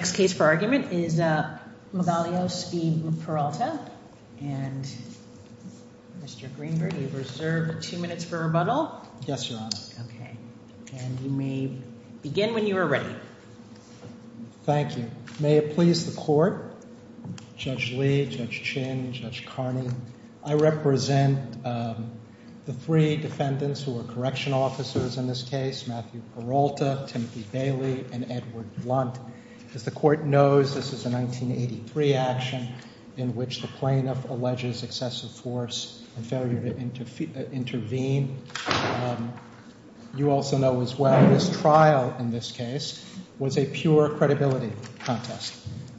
and Mr. Greenberg, you have reserved two minutes for rebuttal. Yes, Your Honor. Okay. And you may begin when you are ready. Thank you. May it please the Court, Judge Lee, Judge Chin, Judge Carney, I represent the three defendants who are correctional officers in this case, Matthew Peralta, Timothy Bailey, and Edward Blunt. As the Court knows, this is a 1983 action in which the plaintiff alleges excessive force and failure to intervene. You also know as well this trial in this case was a pure credibility contest.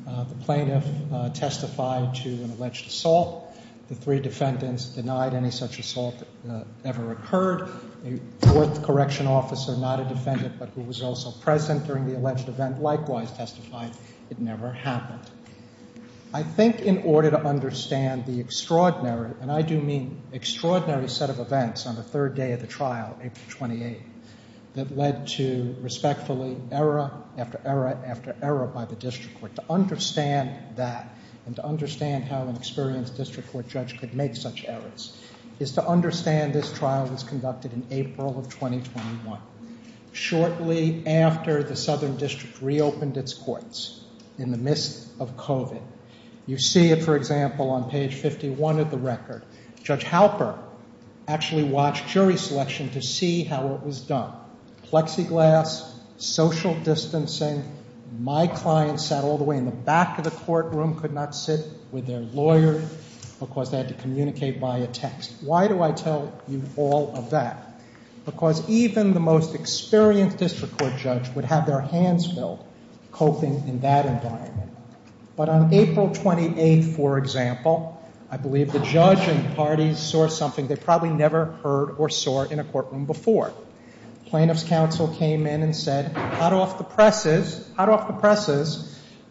The plaintiff testified to an alleged assault. The three defendants denied any such assault that ever occurred. A fourth correctional officer, not a defendant but who was also present during the alleged event, likewise testified it never happened. I think in order to understand the extraordinary, and I do mean extraordinary set of events on the third day of the trial, April 28, that led to respectfully error after error after error by the district court. To understand that and to understand how an experienced district court judge could make such errors is to understand this trial was conducted in April of 2021, shortly after the Southern District reopened its courts in the midst of COVID. You see it, for example, on page 51 of the record. Judge Halper actually watched jury selection to see how it was done. Plexiglass, social distancing, my client sat all the way in the back of the courtroom, could not sit with their lawyer because they had to communicate via text. Why do I tell you all of that? Because even the most experienced district court judge would have their hands filled coping in that environment. But on April 28, for example, I believe the judge and parties saw something they probably never heard or saw in a courtroom before. Plaintiff's counsel came in and said, hot off the presses,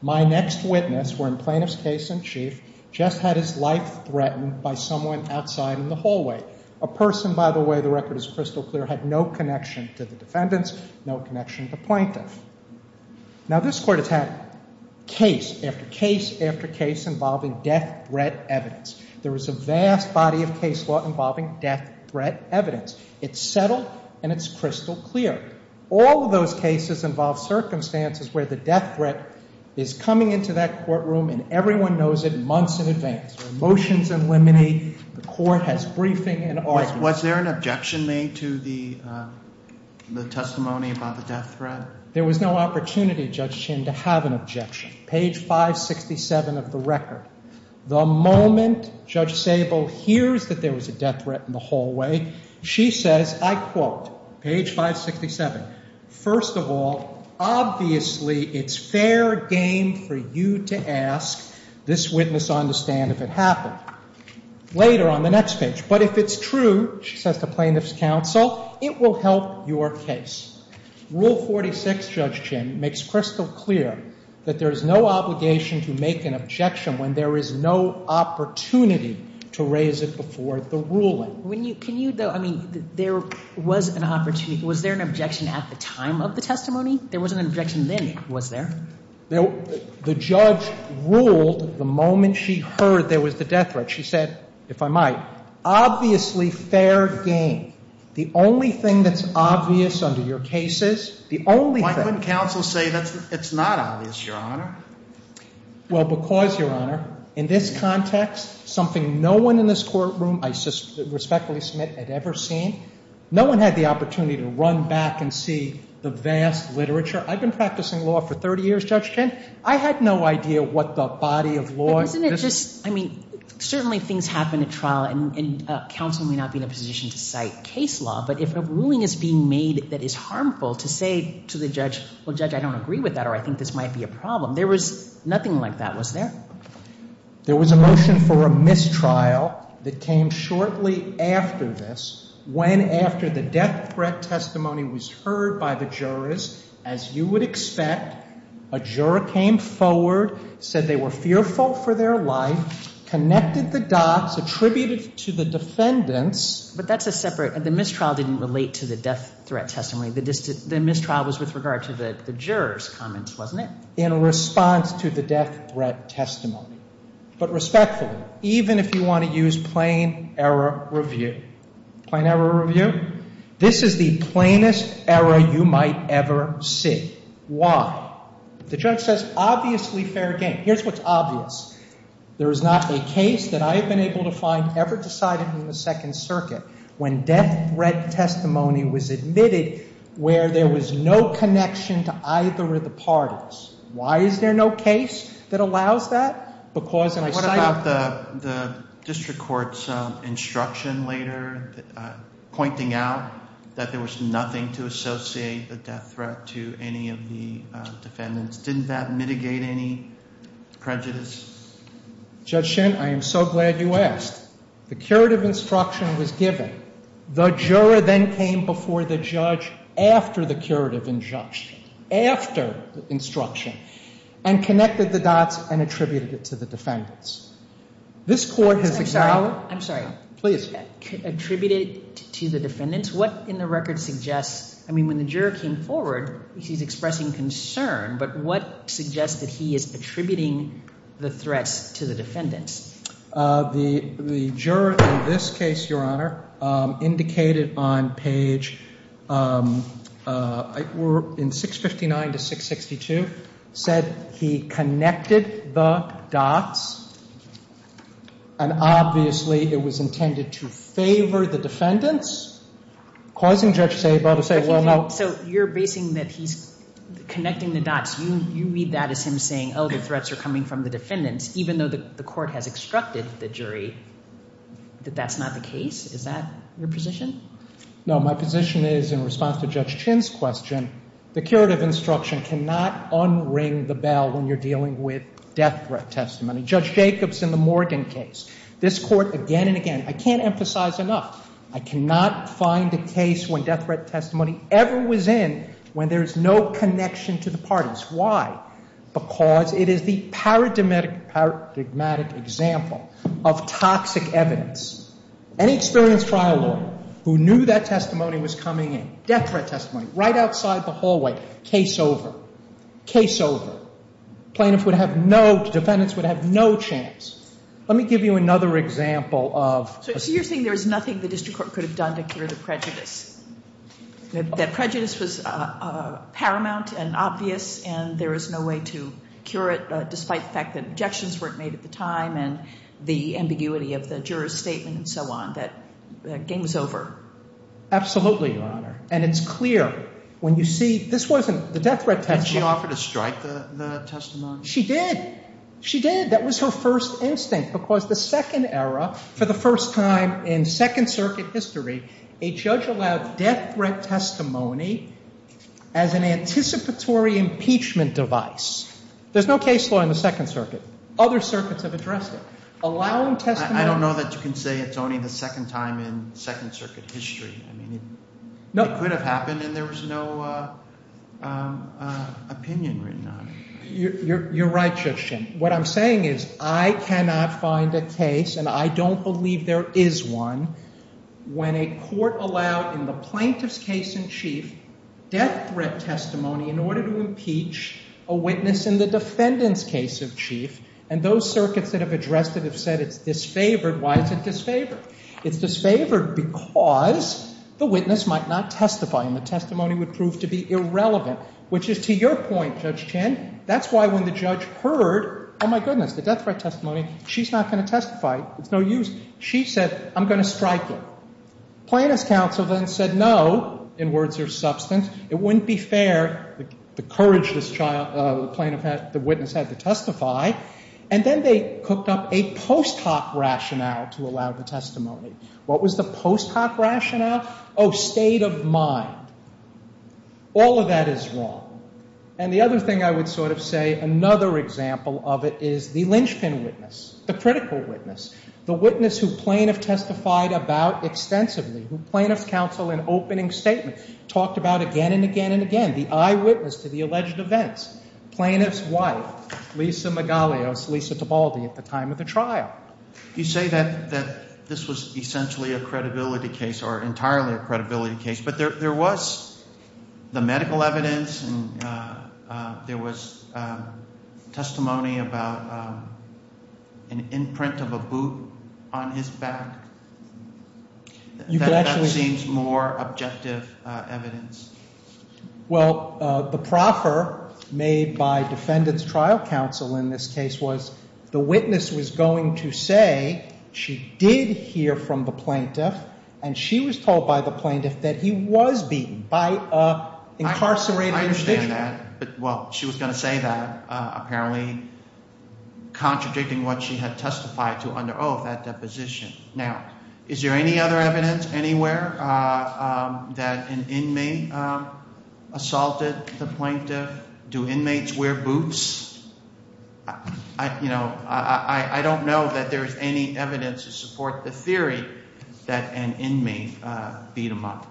my next witness were in plaintiff's case in chief just had his life threatened by someone outside in the hallway. A person, by the way, the record is crystal clear, had no connection to the defendants, no connection to plaintiff. Now this court has had case after case after case involving death threat evidence. There was a vast body of case law involving death threat evidence. It's settled and it's crystal clear. All of those cases involve circumstances where the death threat is coming into that courtroom and everyone knows it months in advance. Motions eliminate, the court has briefing and all. Was there an objection made to the testimony about the death threat? There was no opportunity, Judge Chin, to have an objection. Page 567 of the record. The moment Judge Sable hears that there was a death threat in the hallway, she says, I quote, page 567. First of all, obviously it's fair game for you to ask this witness on the stand if it happened. Later on the next page, but if it's true, she says to plaintiff's counsel, it will help your case. Rule 46, Judge Chin, makes crystal clear that there is no obligation to make an objection when there is no opportunity to raise it before the ruling. Can you, I mean, there was an opportunity, was there an objection at the time of the testimony? There wasn't an objection then, was there? The judge ruled the moment she heard there was the death threat, she said, if I might, obviously fair game. The only thing that's obvious under your case is, the only thing. Why couldn't counsel say it's not obvious, Your Honor? Well, because, Your Honor, in this context, something no one in this courtroom, I respectfully submit, had ever seen. No one had the opportunity to run back and see the vast literature. I've been practicing law for 30 years, Judge Chin. I had no idea what the body of law. Well, isn't it just, I mean, certainly things happen at trial, and counsel may not be in a position to cite case law, but if a ruling is being made that is harmful to say to the judge, well, Judge, I don't agree with that or I think this might be a problem, there was nothing like that, was there? There was a motion for a mistrial that came shortly after this, when after the death threat testimony was heard by the jurors, as you would expect, a juror came forward, said they were fearful for their life, connected the dots, attributed to the defendants. But that's a separate, the mistrial didn't relate to the death threat testimony. The mistrial was with regard to the jurors' comments, wasn't it? In response to the death threat testimony. But respectfully, even if you want to use plain error review, plain error review, this is the plainest error you might ever see. Why? The judge says, obviously fair game. Here's what's obvious. There is not a case that I have been able to find ever decided in the Second Circuit when death threat testimony was admitted where there was no connection to either of the parties. Why is there no case that allows that? What about the district court's instruction later, pointing out that there was nothing to associate the death threat to any of the defendants? Didn't that mitigate any prejudice? Judge Shin, I am so glad you asked. The curative instruction was given. The juror then came before the judge after the curative instruction, after the instruction, and connected the dots and attributed it to the defendants. This court has allowed. I'm sorry. Please. Attributed to the defendants. What in the record suggests, I mean, when the juror came forward, he's expressing concern. But what suggests that he is attributing the threats to the defendants? The juror in this case, Your Honor, indicated on page, in 659 to 662, said he connected the dots. And obviously, it was intended to favor the defendants, causing Judge Sabo to say, well, no. So you're basing that he's connecting the dots. You read that as him saying, oh, the threats are coming from the defendants, even though the court has extracted the jury, that that's not the case? Is that your position? No, my position is, in response to Judge Shin's question, the curative instruction cannot unring the bell when you're dealing with death threat testimony. Judge Jacobs in the Morgan case, this court again and again, I can't emphasize enough, I cannot find a case when death threat testimony, ever was in when there's no connection to the parties. Why? Because it is the paradigmatic example of toxic evidence. Any experienced trial lawyer who knew that testimony was coming in, death threat testimony, right outside the hallway, case over, case over. Plaintiff would have no, defendants would have no chance. Let me give you another example of. So you're saying there was nothing the district court could have done to cure the prejudice? That prejudice was paramount and obvious, and there was no way to cure it, despite the fact that objections weren't made at the time, and the ambiguity of the juror's statement and so on. That game was over. Absolutely, Your Honor. And it's clear. When you see, this wasn't the death threat testimony. Did she offer to strike the testimony? She did. She did. And that was her first instinct, because the second era, for the first time in Second Circuit history, a judge allowed death threat testimony as an anticipatory impeachment device. There's no case law in the Second Circuit. Other circuits have addressed it. Allowing testimony. I don't know that you can say it's only the second time in Second Circuit history. I mean, it could have happened and there was no opinion written on it. You're right, Justin. What I'm saying is I cannot find a case, and I don't believe there is one, when a court allowed, in the plaintiff's case in chief, death threat testimony in order to impeach a witness in the defendant's case in chief. And those circuits that have addressed it have said it's disfavored. Why is it disfavored? It's disfavored because the witness might not testify and the testimony would prove to be irrelevant, which is to your point, Judge Chandon. That's why when the judge heard, oh, my goodness, the death threat testimony, she's not going to testify. It's no use. She said, I'm going to strike it. Plaintiff's counsel then said, no, in words of substance, it wouldn't be fair. The courage this plaintiff had, the witness had to testify. And then they cooked up a post hoc rationale to allow the testimony. What was the post hoc rationale? Oh, state of mind. All of that is wrong. And the other thing I would sort of say, another example of it is the linchpin witness, the critical witness. The witness who plaintiff testified about extensively, who plaintiff's counsel in opening statement talked about again and again and again, the eyewitness to the alleged events. Plaintiff's wife, Lisa Magalios, Lisa Tabaldi, at the time of the trial. You say that this was essentially a credibility case or entirely a credibility case. But there was the medical evidence and there was testimony about an imprint of a boot on his back. That seems more objective evidence. Well, the proffer made by defendant's trial counsel in this case was the witness was going to say she did hear from the plaintiff and she was told by the plaintiff that he was beaten by an incarcerated individual. I understand that. But, well, she was going to say that, apparently contradicting what she had testified to under oath, that deposition. Now, is there any other evidence anywhere that an inmate assaulted the plaintiff? Do inmates wear boots? You know, I don't know that there is any evidence to support the theory that an inmate beat him up.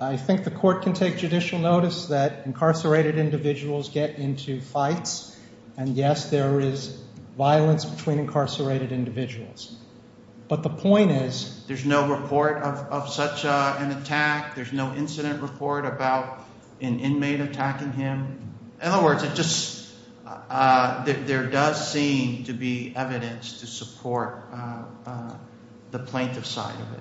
I think the court can take judicial notice that incarcerated individuals get into fights. And, yes, there is violence between incarcerated individuals. But the point is there's no report of such an attack. There's no incident report about an inmate attacking him. In other words, it just there does seem to be evidence to support the plaintiff's side of it.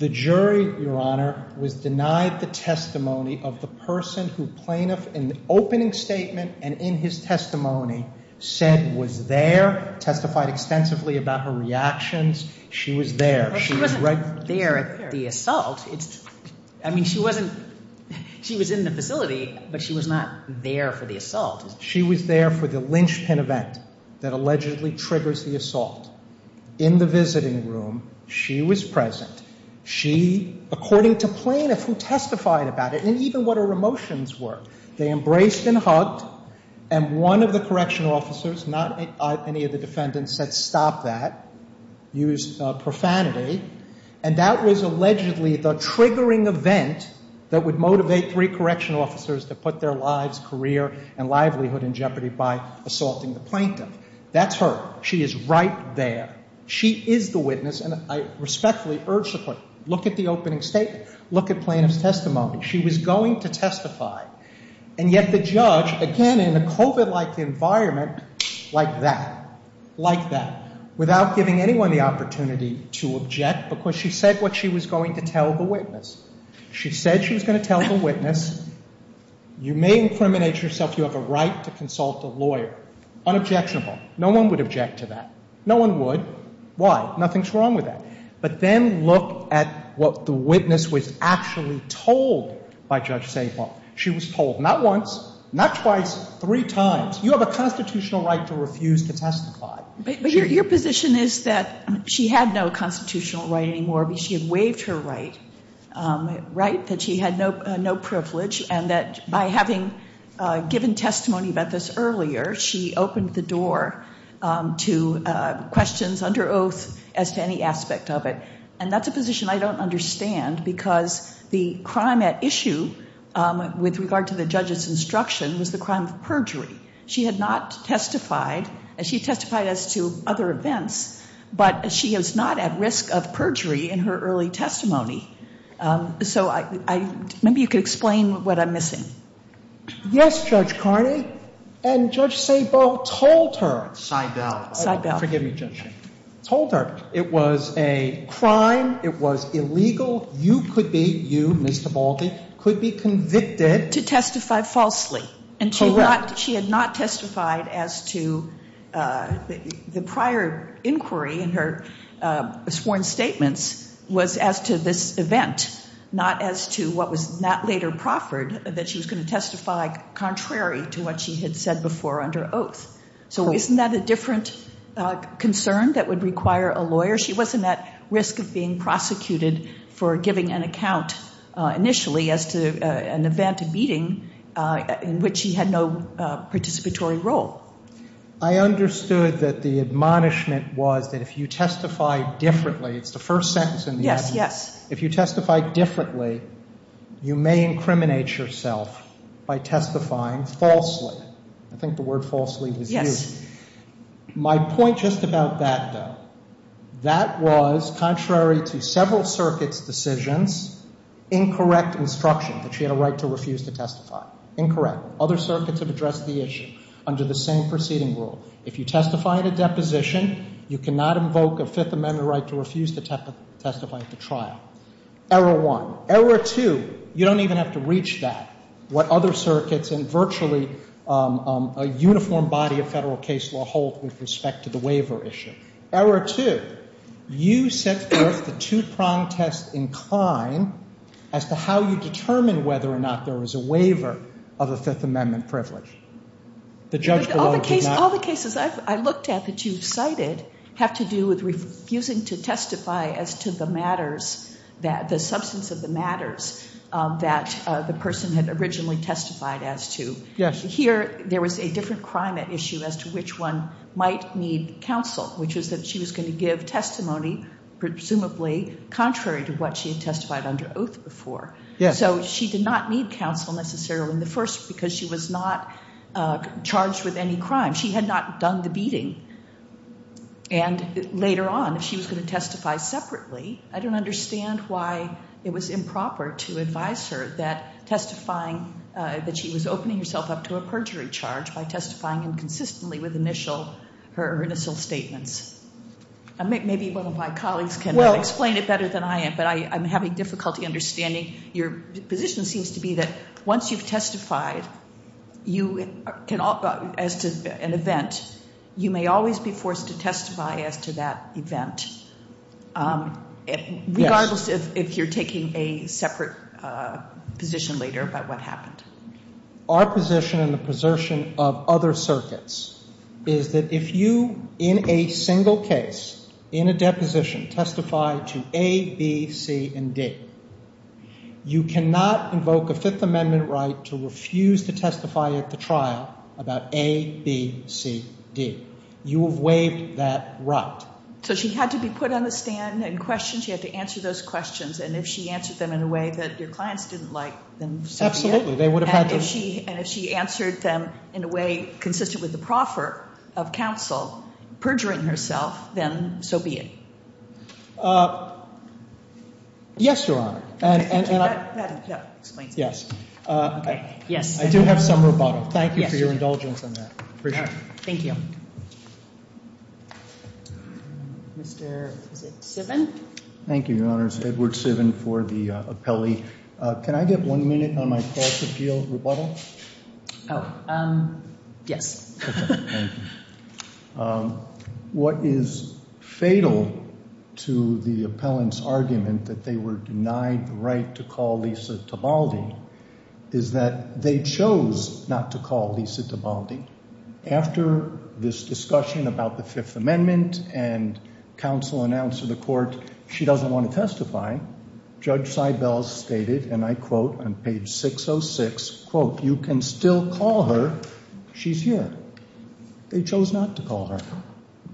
The jury, Your Honor, was denied the testimony of the person who plaintiff in the opening statement and in his testimony said was there, testified extensively about her reactions. She was there. She wasn't there at the assault. I mean, she wasn't she was in the facility, but she was not there for the assault. She was there for the linchpin event that allegedly triggers the assault. In the visiting room, she was present. She, according to plaintiff who testified about it, and even what her emotions were, they embraced and hugged. And one of the correctional officers, not any of the defendants, said stop that, used profanity. And that was allegedly the triggering event that would motivate three correctional officers to put their lives, career, and livelihood in jeopardy by assaulting the plaintiff. That's her. She is right there. She is the witness, and I respectfully urge the court, look at the opening statement. Look at plaintiff's testimony. She was going to testify. And yet the judge, again, in a COVID-like environment, like that, like that, without giving anyone the opportunity to object because she said what she was going to tell the witness. She said she was going to tell the witness. You may incriminate yourself. You have a right to consult a lawyer. Unobjectionable. No one would object to that. No one would. Why? Nothing's wrong with that. But then look at what the witness was actually told by Judge St. Paul. She was told not once, not twice, three times, you have a constitutional right to refuse to testify. But your position is that she had no constitutional right anymore because she had waived her right, right? That she had no privilege and that by having given testimony about this earlier, she opened the door to questions under oath as to any aspect of it. And that's a position I don't understand because the crime at issue with regard to the judge's instruction was the crime of perjury. She had not testified. She testified as to other events, but she is not at risk of perjury in her early testimony. So maybe you could explain what I'm missing. Yes, Judge Carney. And Judge Sabo told her. Seibel. Seibel. Forgive me, Judge. Told her it was a crime. It was illegal. You could be, you, Ms. Tabaldi, could be convicted. To testify falsely. Correct. She had not testified as to the prior inquiry in her sworn statements was as to this event, not as to what was not later proffered, that she was going to testify contrary to what she had said before under oath. So isn't that a different concern that would require a lawyer? She wasn't at risk of being prosecuted for giving an account initially as to an event, a meeting, in which she had no participatory role. I understood that the admonishment was that if you testify differently, it's the first sentence in the admonition. Yes, yes. If you testify differently, you may incriminate yourself by testifying falsely. I think the word falsely was used. Yes. My point just about that, though, that was contrary to several circuits' decisions, incorrect instruction that she had a right to refuse to testify. Incorrect. Other circuits have addressed the issue under the same proceeding rule. If you testify in a deposition, you cannot invoke a Fifth Amendment right to refuse to testify at the trial. Error one. Error two, you don't even have to reach that. What other circuits and virtually a uniform body of Federal case law hold with respect to the waiver issue? Error two, you set forth the two-prong test incline as to how you determine whether or not there was a waiver of a Fifth Amendment privilege. All the cases I've looked at that you've cited have to do with refusing to testify as to the matters, the substance of the matters that the person had originally testified as to. Yes. Here there was a different crime issue as to which one might need counsel, which was that she was going to give testimony presumably contrary to what she had testified under oath before. Yes. So she did not need counsel necessarily in the first because she was not charged with any crime. She had not done the beating. And later on, if she was going to testify separately, I don't understand why it was improper to advise her that testifying that she was opening herself up to a perjury charge by testifying inconsistently with initial statements. Maybe one of my colleagues can explain it better than I am, but I'm having difficulty understanding your position seems to be that once you've testified as to an event, you may always be forced to testify as to that event regardless if you're taking a separate position later about what happened. Our position and the position of other circuits is that if you in a single case, in a deposition testify to A, B, C, and D, you cannot invoke a Fifth Amendment right to refuse to testify at the trial about A, B, C, D. You have waived that right. So she had to be put on the stand and questioned. She had to answer those questions. And if she answered them in a way that your clients didn't like, then so be it. Absolutely. And if she answered them in a way consistent with the proffer of counsel perjuring herself, then so be it. Yes, Your Honor. And I do have some rebuttal. Thank you for your indulgence on that. Thank you. Mr. Sivin. Thank you, Your Honors. Edward Sivin for the appellee. Can I get one minute on my cross-appeal rebuttal? Yes. Okay. Thank you. What is fatal to the appellant's argument that they were denied the right to call Lisa Tabaldi is that they chose not to call Lisa Tabaldi. After this discussion about the Fifth Amendment and counsel announced to the court she doesn't want to testify, Judge Seibel stated, and I quote on page 606, quote, you can still call her. She's here. They chose not to call her.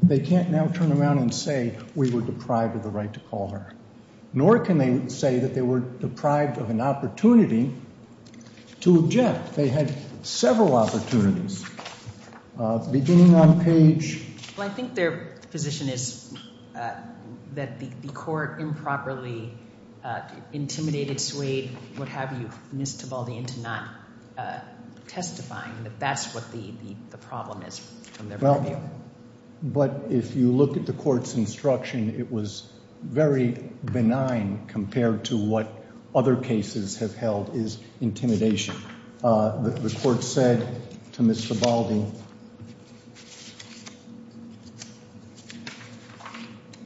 They can't now turn around and say we were deprived of the right to call her. Nor can they say that they were deprived of an opportunity to object. They had several opportunities. Beginning on page. I think their position is that the court improperly intimidated Suede, what have you, Ms. Tabaldi into not testifying. That's what the problem is from their point of view. But if you look at the court's instruction, it was very benign compared to what other cases have held is intimidation. The court said to Ms. Tabaldi,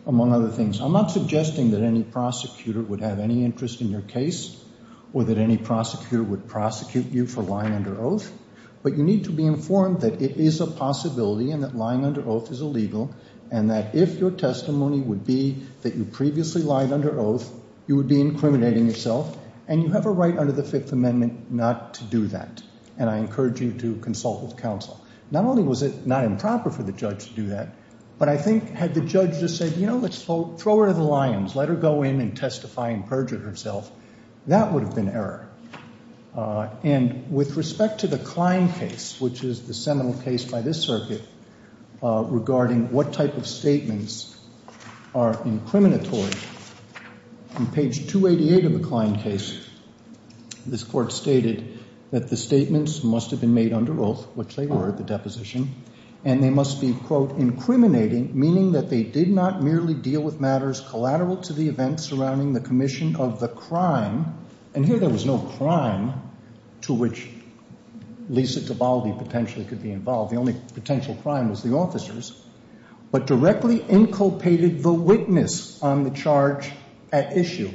among other things, I'm not suggesting that any prosecutor would have any interest in your case or that any prosecutor would prosecute you for lying under oath, but you need to be informed that it is a possibility and that lying under oath is illegal and that if your testimony would be that you previously lied under oath, you would be incriminating yourself and you have a right under the Fifth Amendment not to do that and I encourage you to consult with counsel. Not only was it not improper for the judge to do that, but I think had the judge just said, you know, let's throw her to the lions, let her go in and testify and perjure herself, that would have been error. And with respect to the Klein case, which is the seminal case by this circuit regarding what type of statements are incriminatory, on page 288 of the Klein case, this court stated that the statements must have been made under oath, which they were at the deposition, and they must be, quote, incriminating, meaning that they did not merely deal with matters collateral to the events surrounding the commission of the crime, and here there was no crime to which Lisa Tabaldi potentially could be involved. The only potential crime was the officers, but directly inculpated the witness on the charge at issue.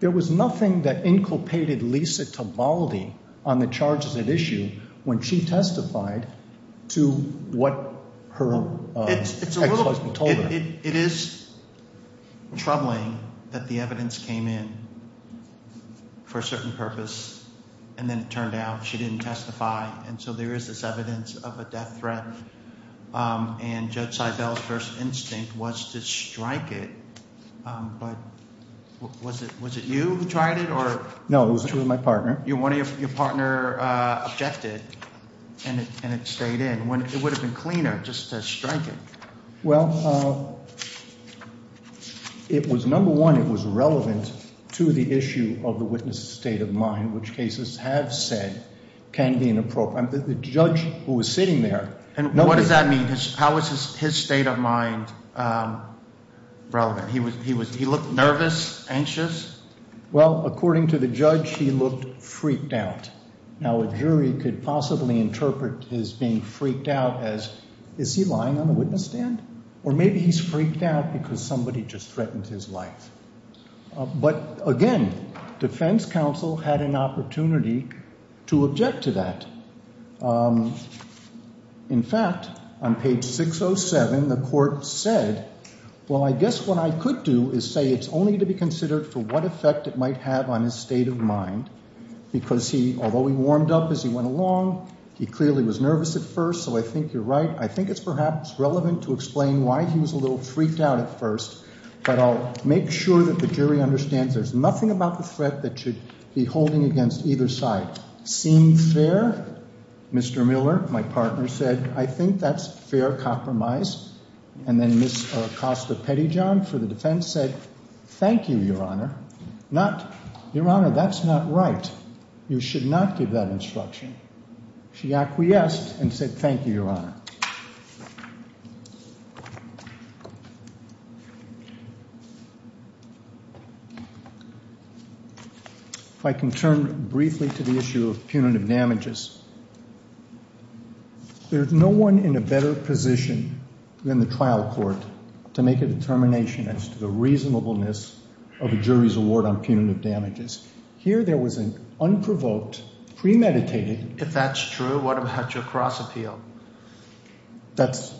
There was nothing that inculpated Lisa Tabaldi on the charges at issue when she testified to what her ex-husband told her. It is troubling that the evidence came in for a certain purpose and then it turned out she didn't testify and so there is this evidence of a death threat, and Judge Seibel's first instinct was to strike it, but was it you who tried it? No, it was me and my partner. Your partner objected and it stayed in. It would have been cleaner just to strike it. Well, it was, number one, it was relevant to the issue of the witness' state of mind, which cases have said can be inappropriate. The judge who was sitting there. And what does that mean? How was his state of mind relevant? He looked nervous, anxious? Well, according to the judge, he looked freaked out. Now a jury could possibly interpret his being freaked out as, is he lying on the witness stand? Or maybe he's freaked out because somebody just threatened his life. But, again, defense counsel had an opportunity to object to that. In fact, on page 607, the court said, well, I guess what I could do is say it's only to be considered for what effect it might have on his state of mind, because although he warmed up as he went along, he clearly was nervous at first, so I think you're right. I think it's perhaps relevant to explain why he was a little freaked out at first, but I'll make sure that the jury understands there's nothing about the threat that should be holding against either side. Seemed fair, Mr. Miller, my partner, said, I think that's fair compromise. And then Ms. Acosta-Pettijohn for the defense said, thank you, Your Honor. Not, Your Honor, that's not right. You should not give that instruction. She acquiesced and said, thank you, Your Honor. If I can turn briefly to the issue of punitive damages. There's no one in a better position than the trial court to make a determination as to the reasonableness of a jury's award on punitive damages. Here there was an unprovoked, premeditated If that's true, what about your cross appeal? That's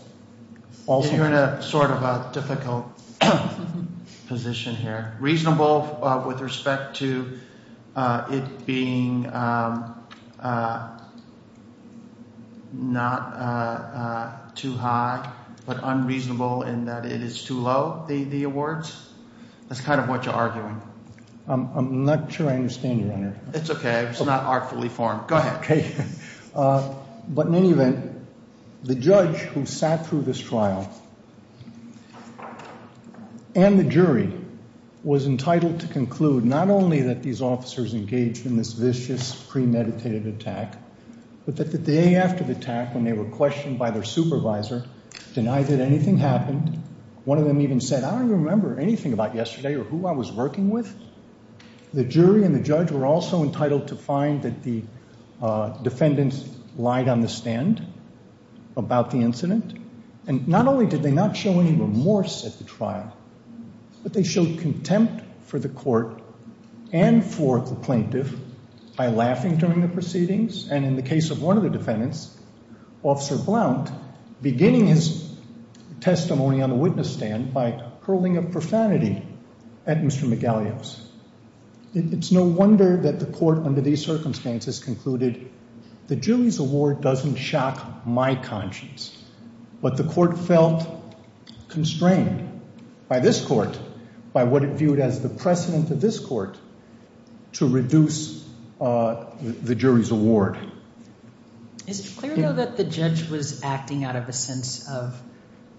also You're in a sort of a difficult position here. Reasonable with respect to it being not too high, but unreasonable in that it is too low, the awards? That's kind of what you're arguing. I'm not sure I understand you, Your Honor. It's okay. It's not artfully formed. Go ahead. Okay. But in any event, the judge who sat through this trial and the jury was entitled to conclude not only that these officers engaged in this vicious premeditated attack, but that the day after the attack, when they were questioned by their supervisor, denied that anything happened, one of them even said, I don't remember anything about yesterday or who I was working with. The jury and the judge were also entitled to find that the defendants lied on the stand about the incident. And not only did they not show any remorse at the trial, but they showed contempt for the court and for the plaintiff by laughing during the proceedings. And in the case of one of the defendants, Officer Blount, beginning his testimony on the witness stand by hurling a profanity at Mr. Magalhaes. It's no wonder that the court under these circumstances concluded the jury's award doesn't shock my conscience. But the court felt constrained by this court, by what it viewed as the precedent of this court, to reduce the jury's award. Is it clear, though, that the judge was acting out of a sense of,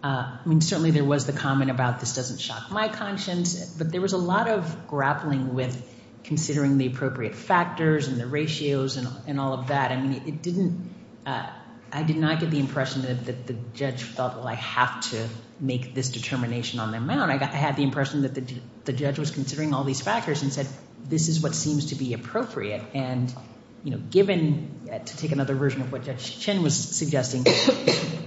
I mean, certainly there was the comment about this doesn't shock my conscience, but there was a lot of grappling with considering the appropriate factors and the ratios and all of that. I mean, it didn't, I did not get the impression that the judge thought, well, I have to make this determination on their mound. I had the impression that the judge was considering all these factors and said, this is what seems to be appropriate. And, you know, given, to take another version of what Judge Chen was suggesting,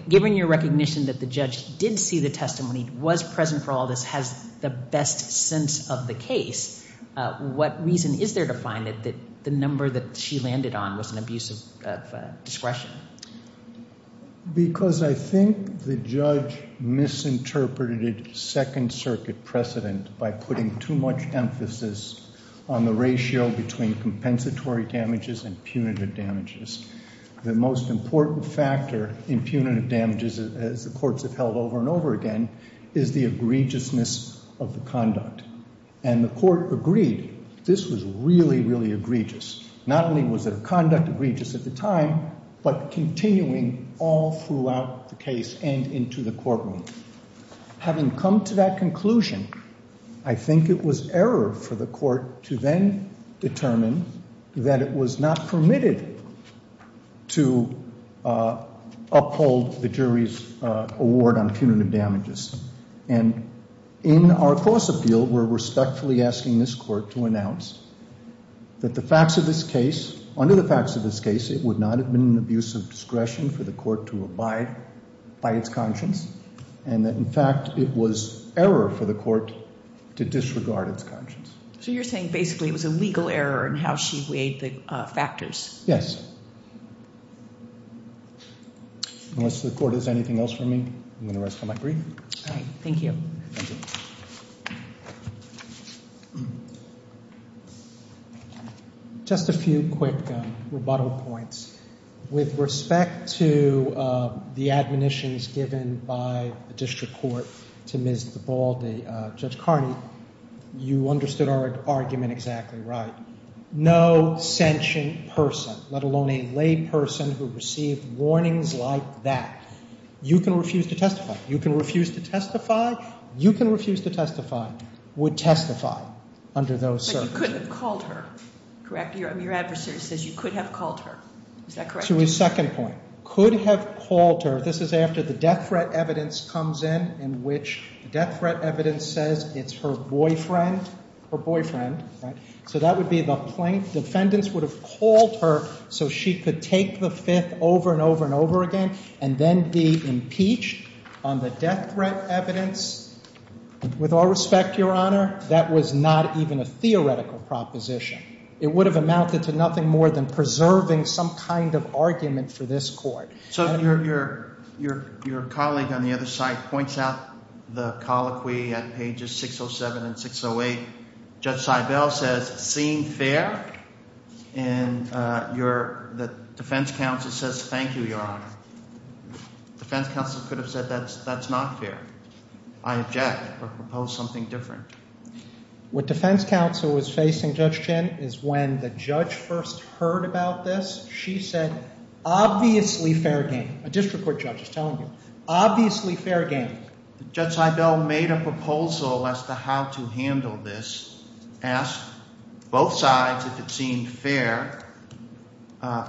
given your recognition that the judge did see the testimony, was present for all this, has the best sense of the case, what reason is there to find that the number that she landed on was an abuse of discretion? Because I think the judge misinterpreted Second Circuit precedent by putting too much emphasis on the ratio between compensatory damages and punitive damages. The most important factor in punitive damages, as the courts have held over and over again, is the egregiousness of the conduct. And the court agreed this was really, really egregious. Not only was their conduct egregious at the time, but continuing all throughout the case and into the courtroom. Having come to that conclusion, I think it was error for the court to then determine that it was not permitted to uphold the jury's award on punitive damages. And in our cross-appeal, we're respectfully asking this court to announce that the facts of this case, under the facts of this case, it would not have been an abuse of discretion for the court to abide by its conscience. And that, in fact, it was error for the court to disregard its conscience. So you're saying basically it was a legal error in how she weighed the factors. Yes. Unless the court has anything else for me, I'm going to rest on my brief. All right. Thank you. Thank you. Just a few quick rebuttal points. With respect to the admonitions given by the district court to Ms. DeBaldi, Judge Carney, you understood our argument exactly right. No sentient person, let alone a lay person, who received warnings like that. You can refuse to testify. You can refuse to testify. You can refuse to testify, would testify under those circumstances. But you could have called her, correct? Your adversary says you could have called her. Is that correct? To his second point, could have called her. This is after the death threat evidence comes in, in which the death threat evidence says it's her boyfriend. Her boyfriend, right? So that would be the plaintiff. Defendants would have called her so she could take the Fifth over and over and over again and then be impeached on the death threat evidence. With all respect, Your Honor, that was not even a theoretical proposition. It would have amounted to nothing more than preserving some kind of argument for this court. So your colleague on the other side points out the colloquy at pages 607 and 608. Judge Seibel says, seeing fair, and the defense counsel says, thank you, Your Honor. Defense counsel could have said, that's not fair. I object or propose something different. What defense counsel was facing, Judge Chin, is when the judge first heard about this, she said, obviously fair game. A district court judge is telling you, obviously fair game. Judge Seibel made a proposal as to how to handle this, asked both sides if it seemed fair.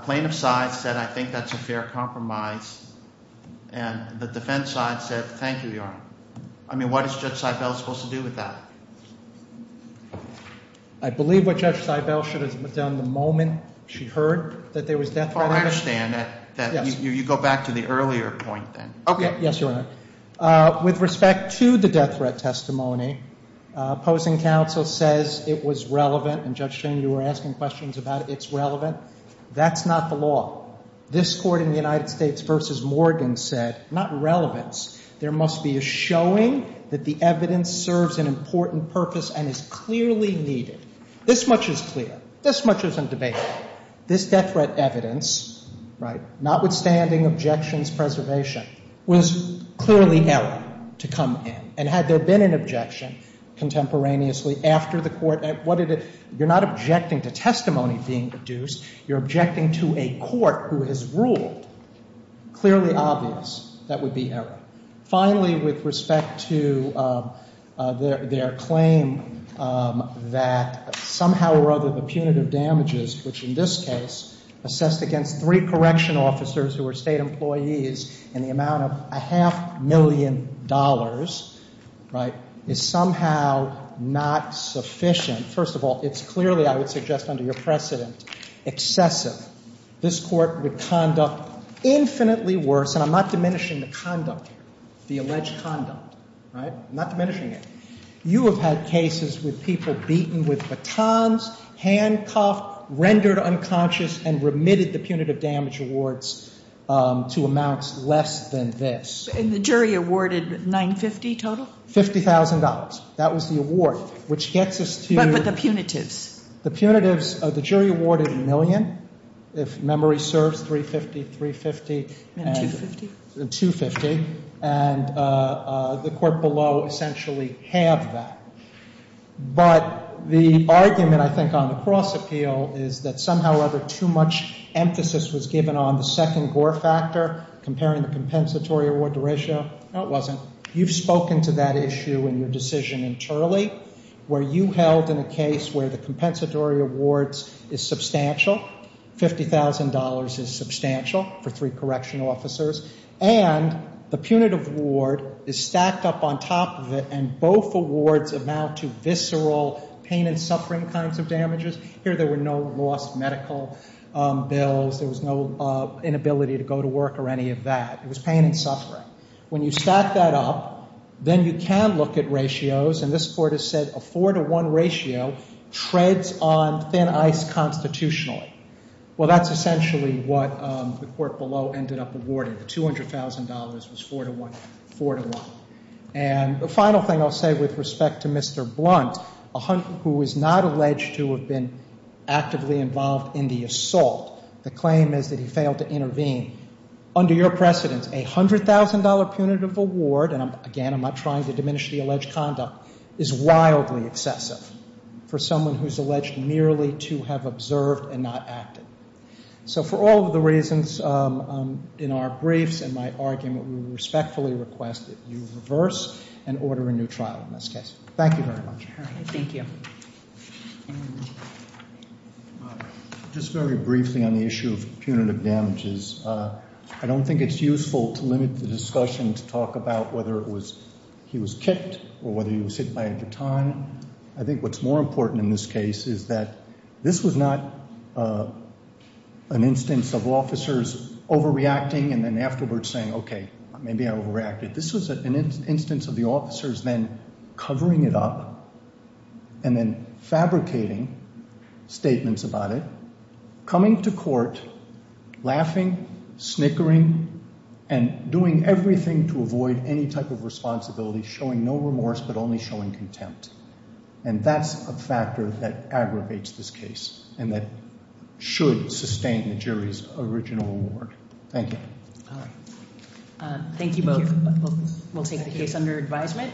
Plaintiff's side said, I think that's a fair compromise. And the defense side said, thank you, Your Honor. I mean, what is Judge Seibel supposed to do with that? I believe what Judge Seibel should have done the moment she heard that there was death threat evidence. Oh, I understand. You go back to the earlier point then. Yes, Your Honor. With respect to the death threat testimony, opposing counsel says it was relevant, and Judge Chin, you were asking questions about it's relevant. That's not the law. This court in the United States v. Morgan said, not relevance, there must be a showing that the evidence serves an important purpose and is clearly needed. This much is clear. This much isn't debatable. This death threat evidence, notwithstanding objections preservation, was clearly error to come in. And had there been an objection contemporaneously after the court, you're not objecting to testimony being produced. You're objecting to a court who has ruled clearly obvious that would be error. Finally, with respect to their claim that somehow or other the punitive damages, which in this case assessed against three correctional officers who were state employees in the amount of a half million dollars, right, is somehow not sufficient. First of all, it's clearly, I would suggest under your precedent, excessive. This court would conduct infinitely worse, and I'm not diminishing the conduct here, the alleged conduct, right? I'm not diminishing it. You have had cases with people beaten with batons, handcuffed, rendered unconscious, and remitted the punitive damage awards to amounts less than this. And the jury awarded $950,000 total? $50,000. That was the award, which gets us to the punitives. The jury awarded a million. If memory serves, $350,000, $350,000. $250,000. $250,000. And the court below essentially halved that. But the argument, I think, on the cross appeal is that somehow or other too much emphasis was given on the second Gore factor comparing the compensatory award to ratio. No, it wasn't. You've spoken to that issue in your decision internally where you held in a case where the compensatory awards is substantial, $50,000 is substantial for three correctional officers, and the punitive award is stacked up on top of it, and both awards amount to visceral pain and suffering kinds of damages. Here there were no lost medical bills. There was no inability to go to work or any of that. It was pain and suffering. When you stack that up, then you can look at ratios, and this court has said a 4-to-1 ratio treads on thin ice constitutionally. Well, that's essentially what the court below ended up awarding. The $200,000 was 4-to-1, 4-to-1. And the final thing I'll say with respect to Mr. Blunt, who is not alleged to have been actively involved in the assault, the claim is that he failed to intervene. Under your precedence, a $100,000 punitive award, and, again, I'm not trying to diminish the alleged conduct, is wildly excessive for someone who's alleged merely to have observed and not acted. So for all of the reasons in our briefs and my argument, we respectfully request that you reverse and order a new trial in this case. Thank you very much. Thank you. Just very briefly on the issue of punitive damages, I don't think it's useful to limit the discussion to talk about whether he was kicked or whether he was hit by a baton. I think what's more important in this case is that this was not an instance of officers overreacting and then afterwards saying, okay, maybe I overreacted. This was an instance of the officers then covering it up and then fabricating statements about it, coming to court laughing, snickering, and doing everything to avoid any type of responsibility, showing no remorse but only showing contempt. And that's a factor that aggravates this case and that should sustain the jury's original award. Thank you. Thank you both. We'll take the case under advisement.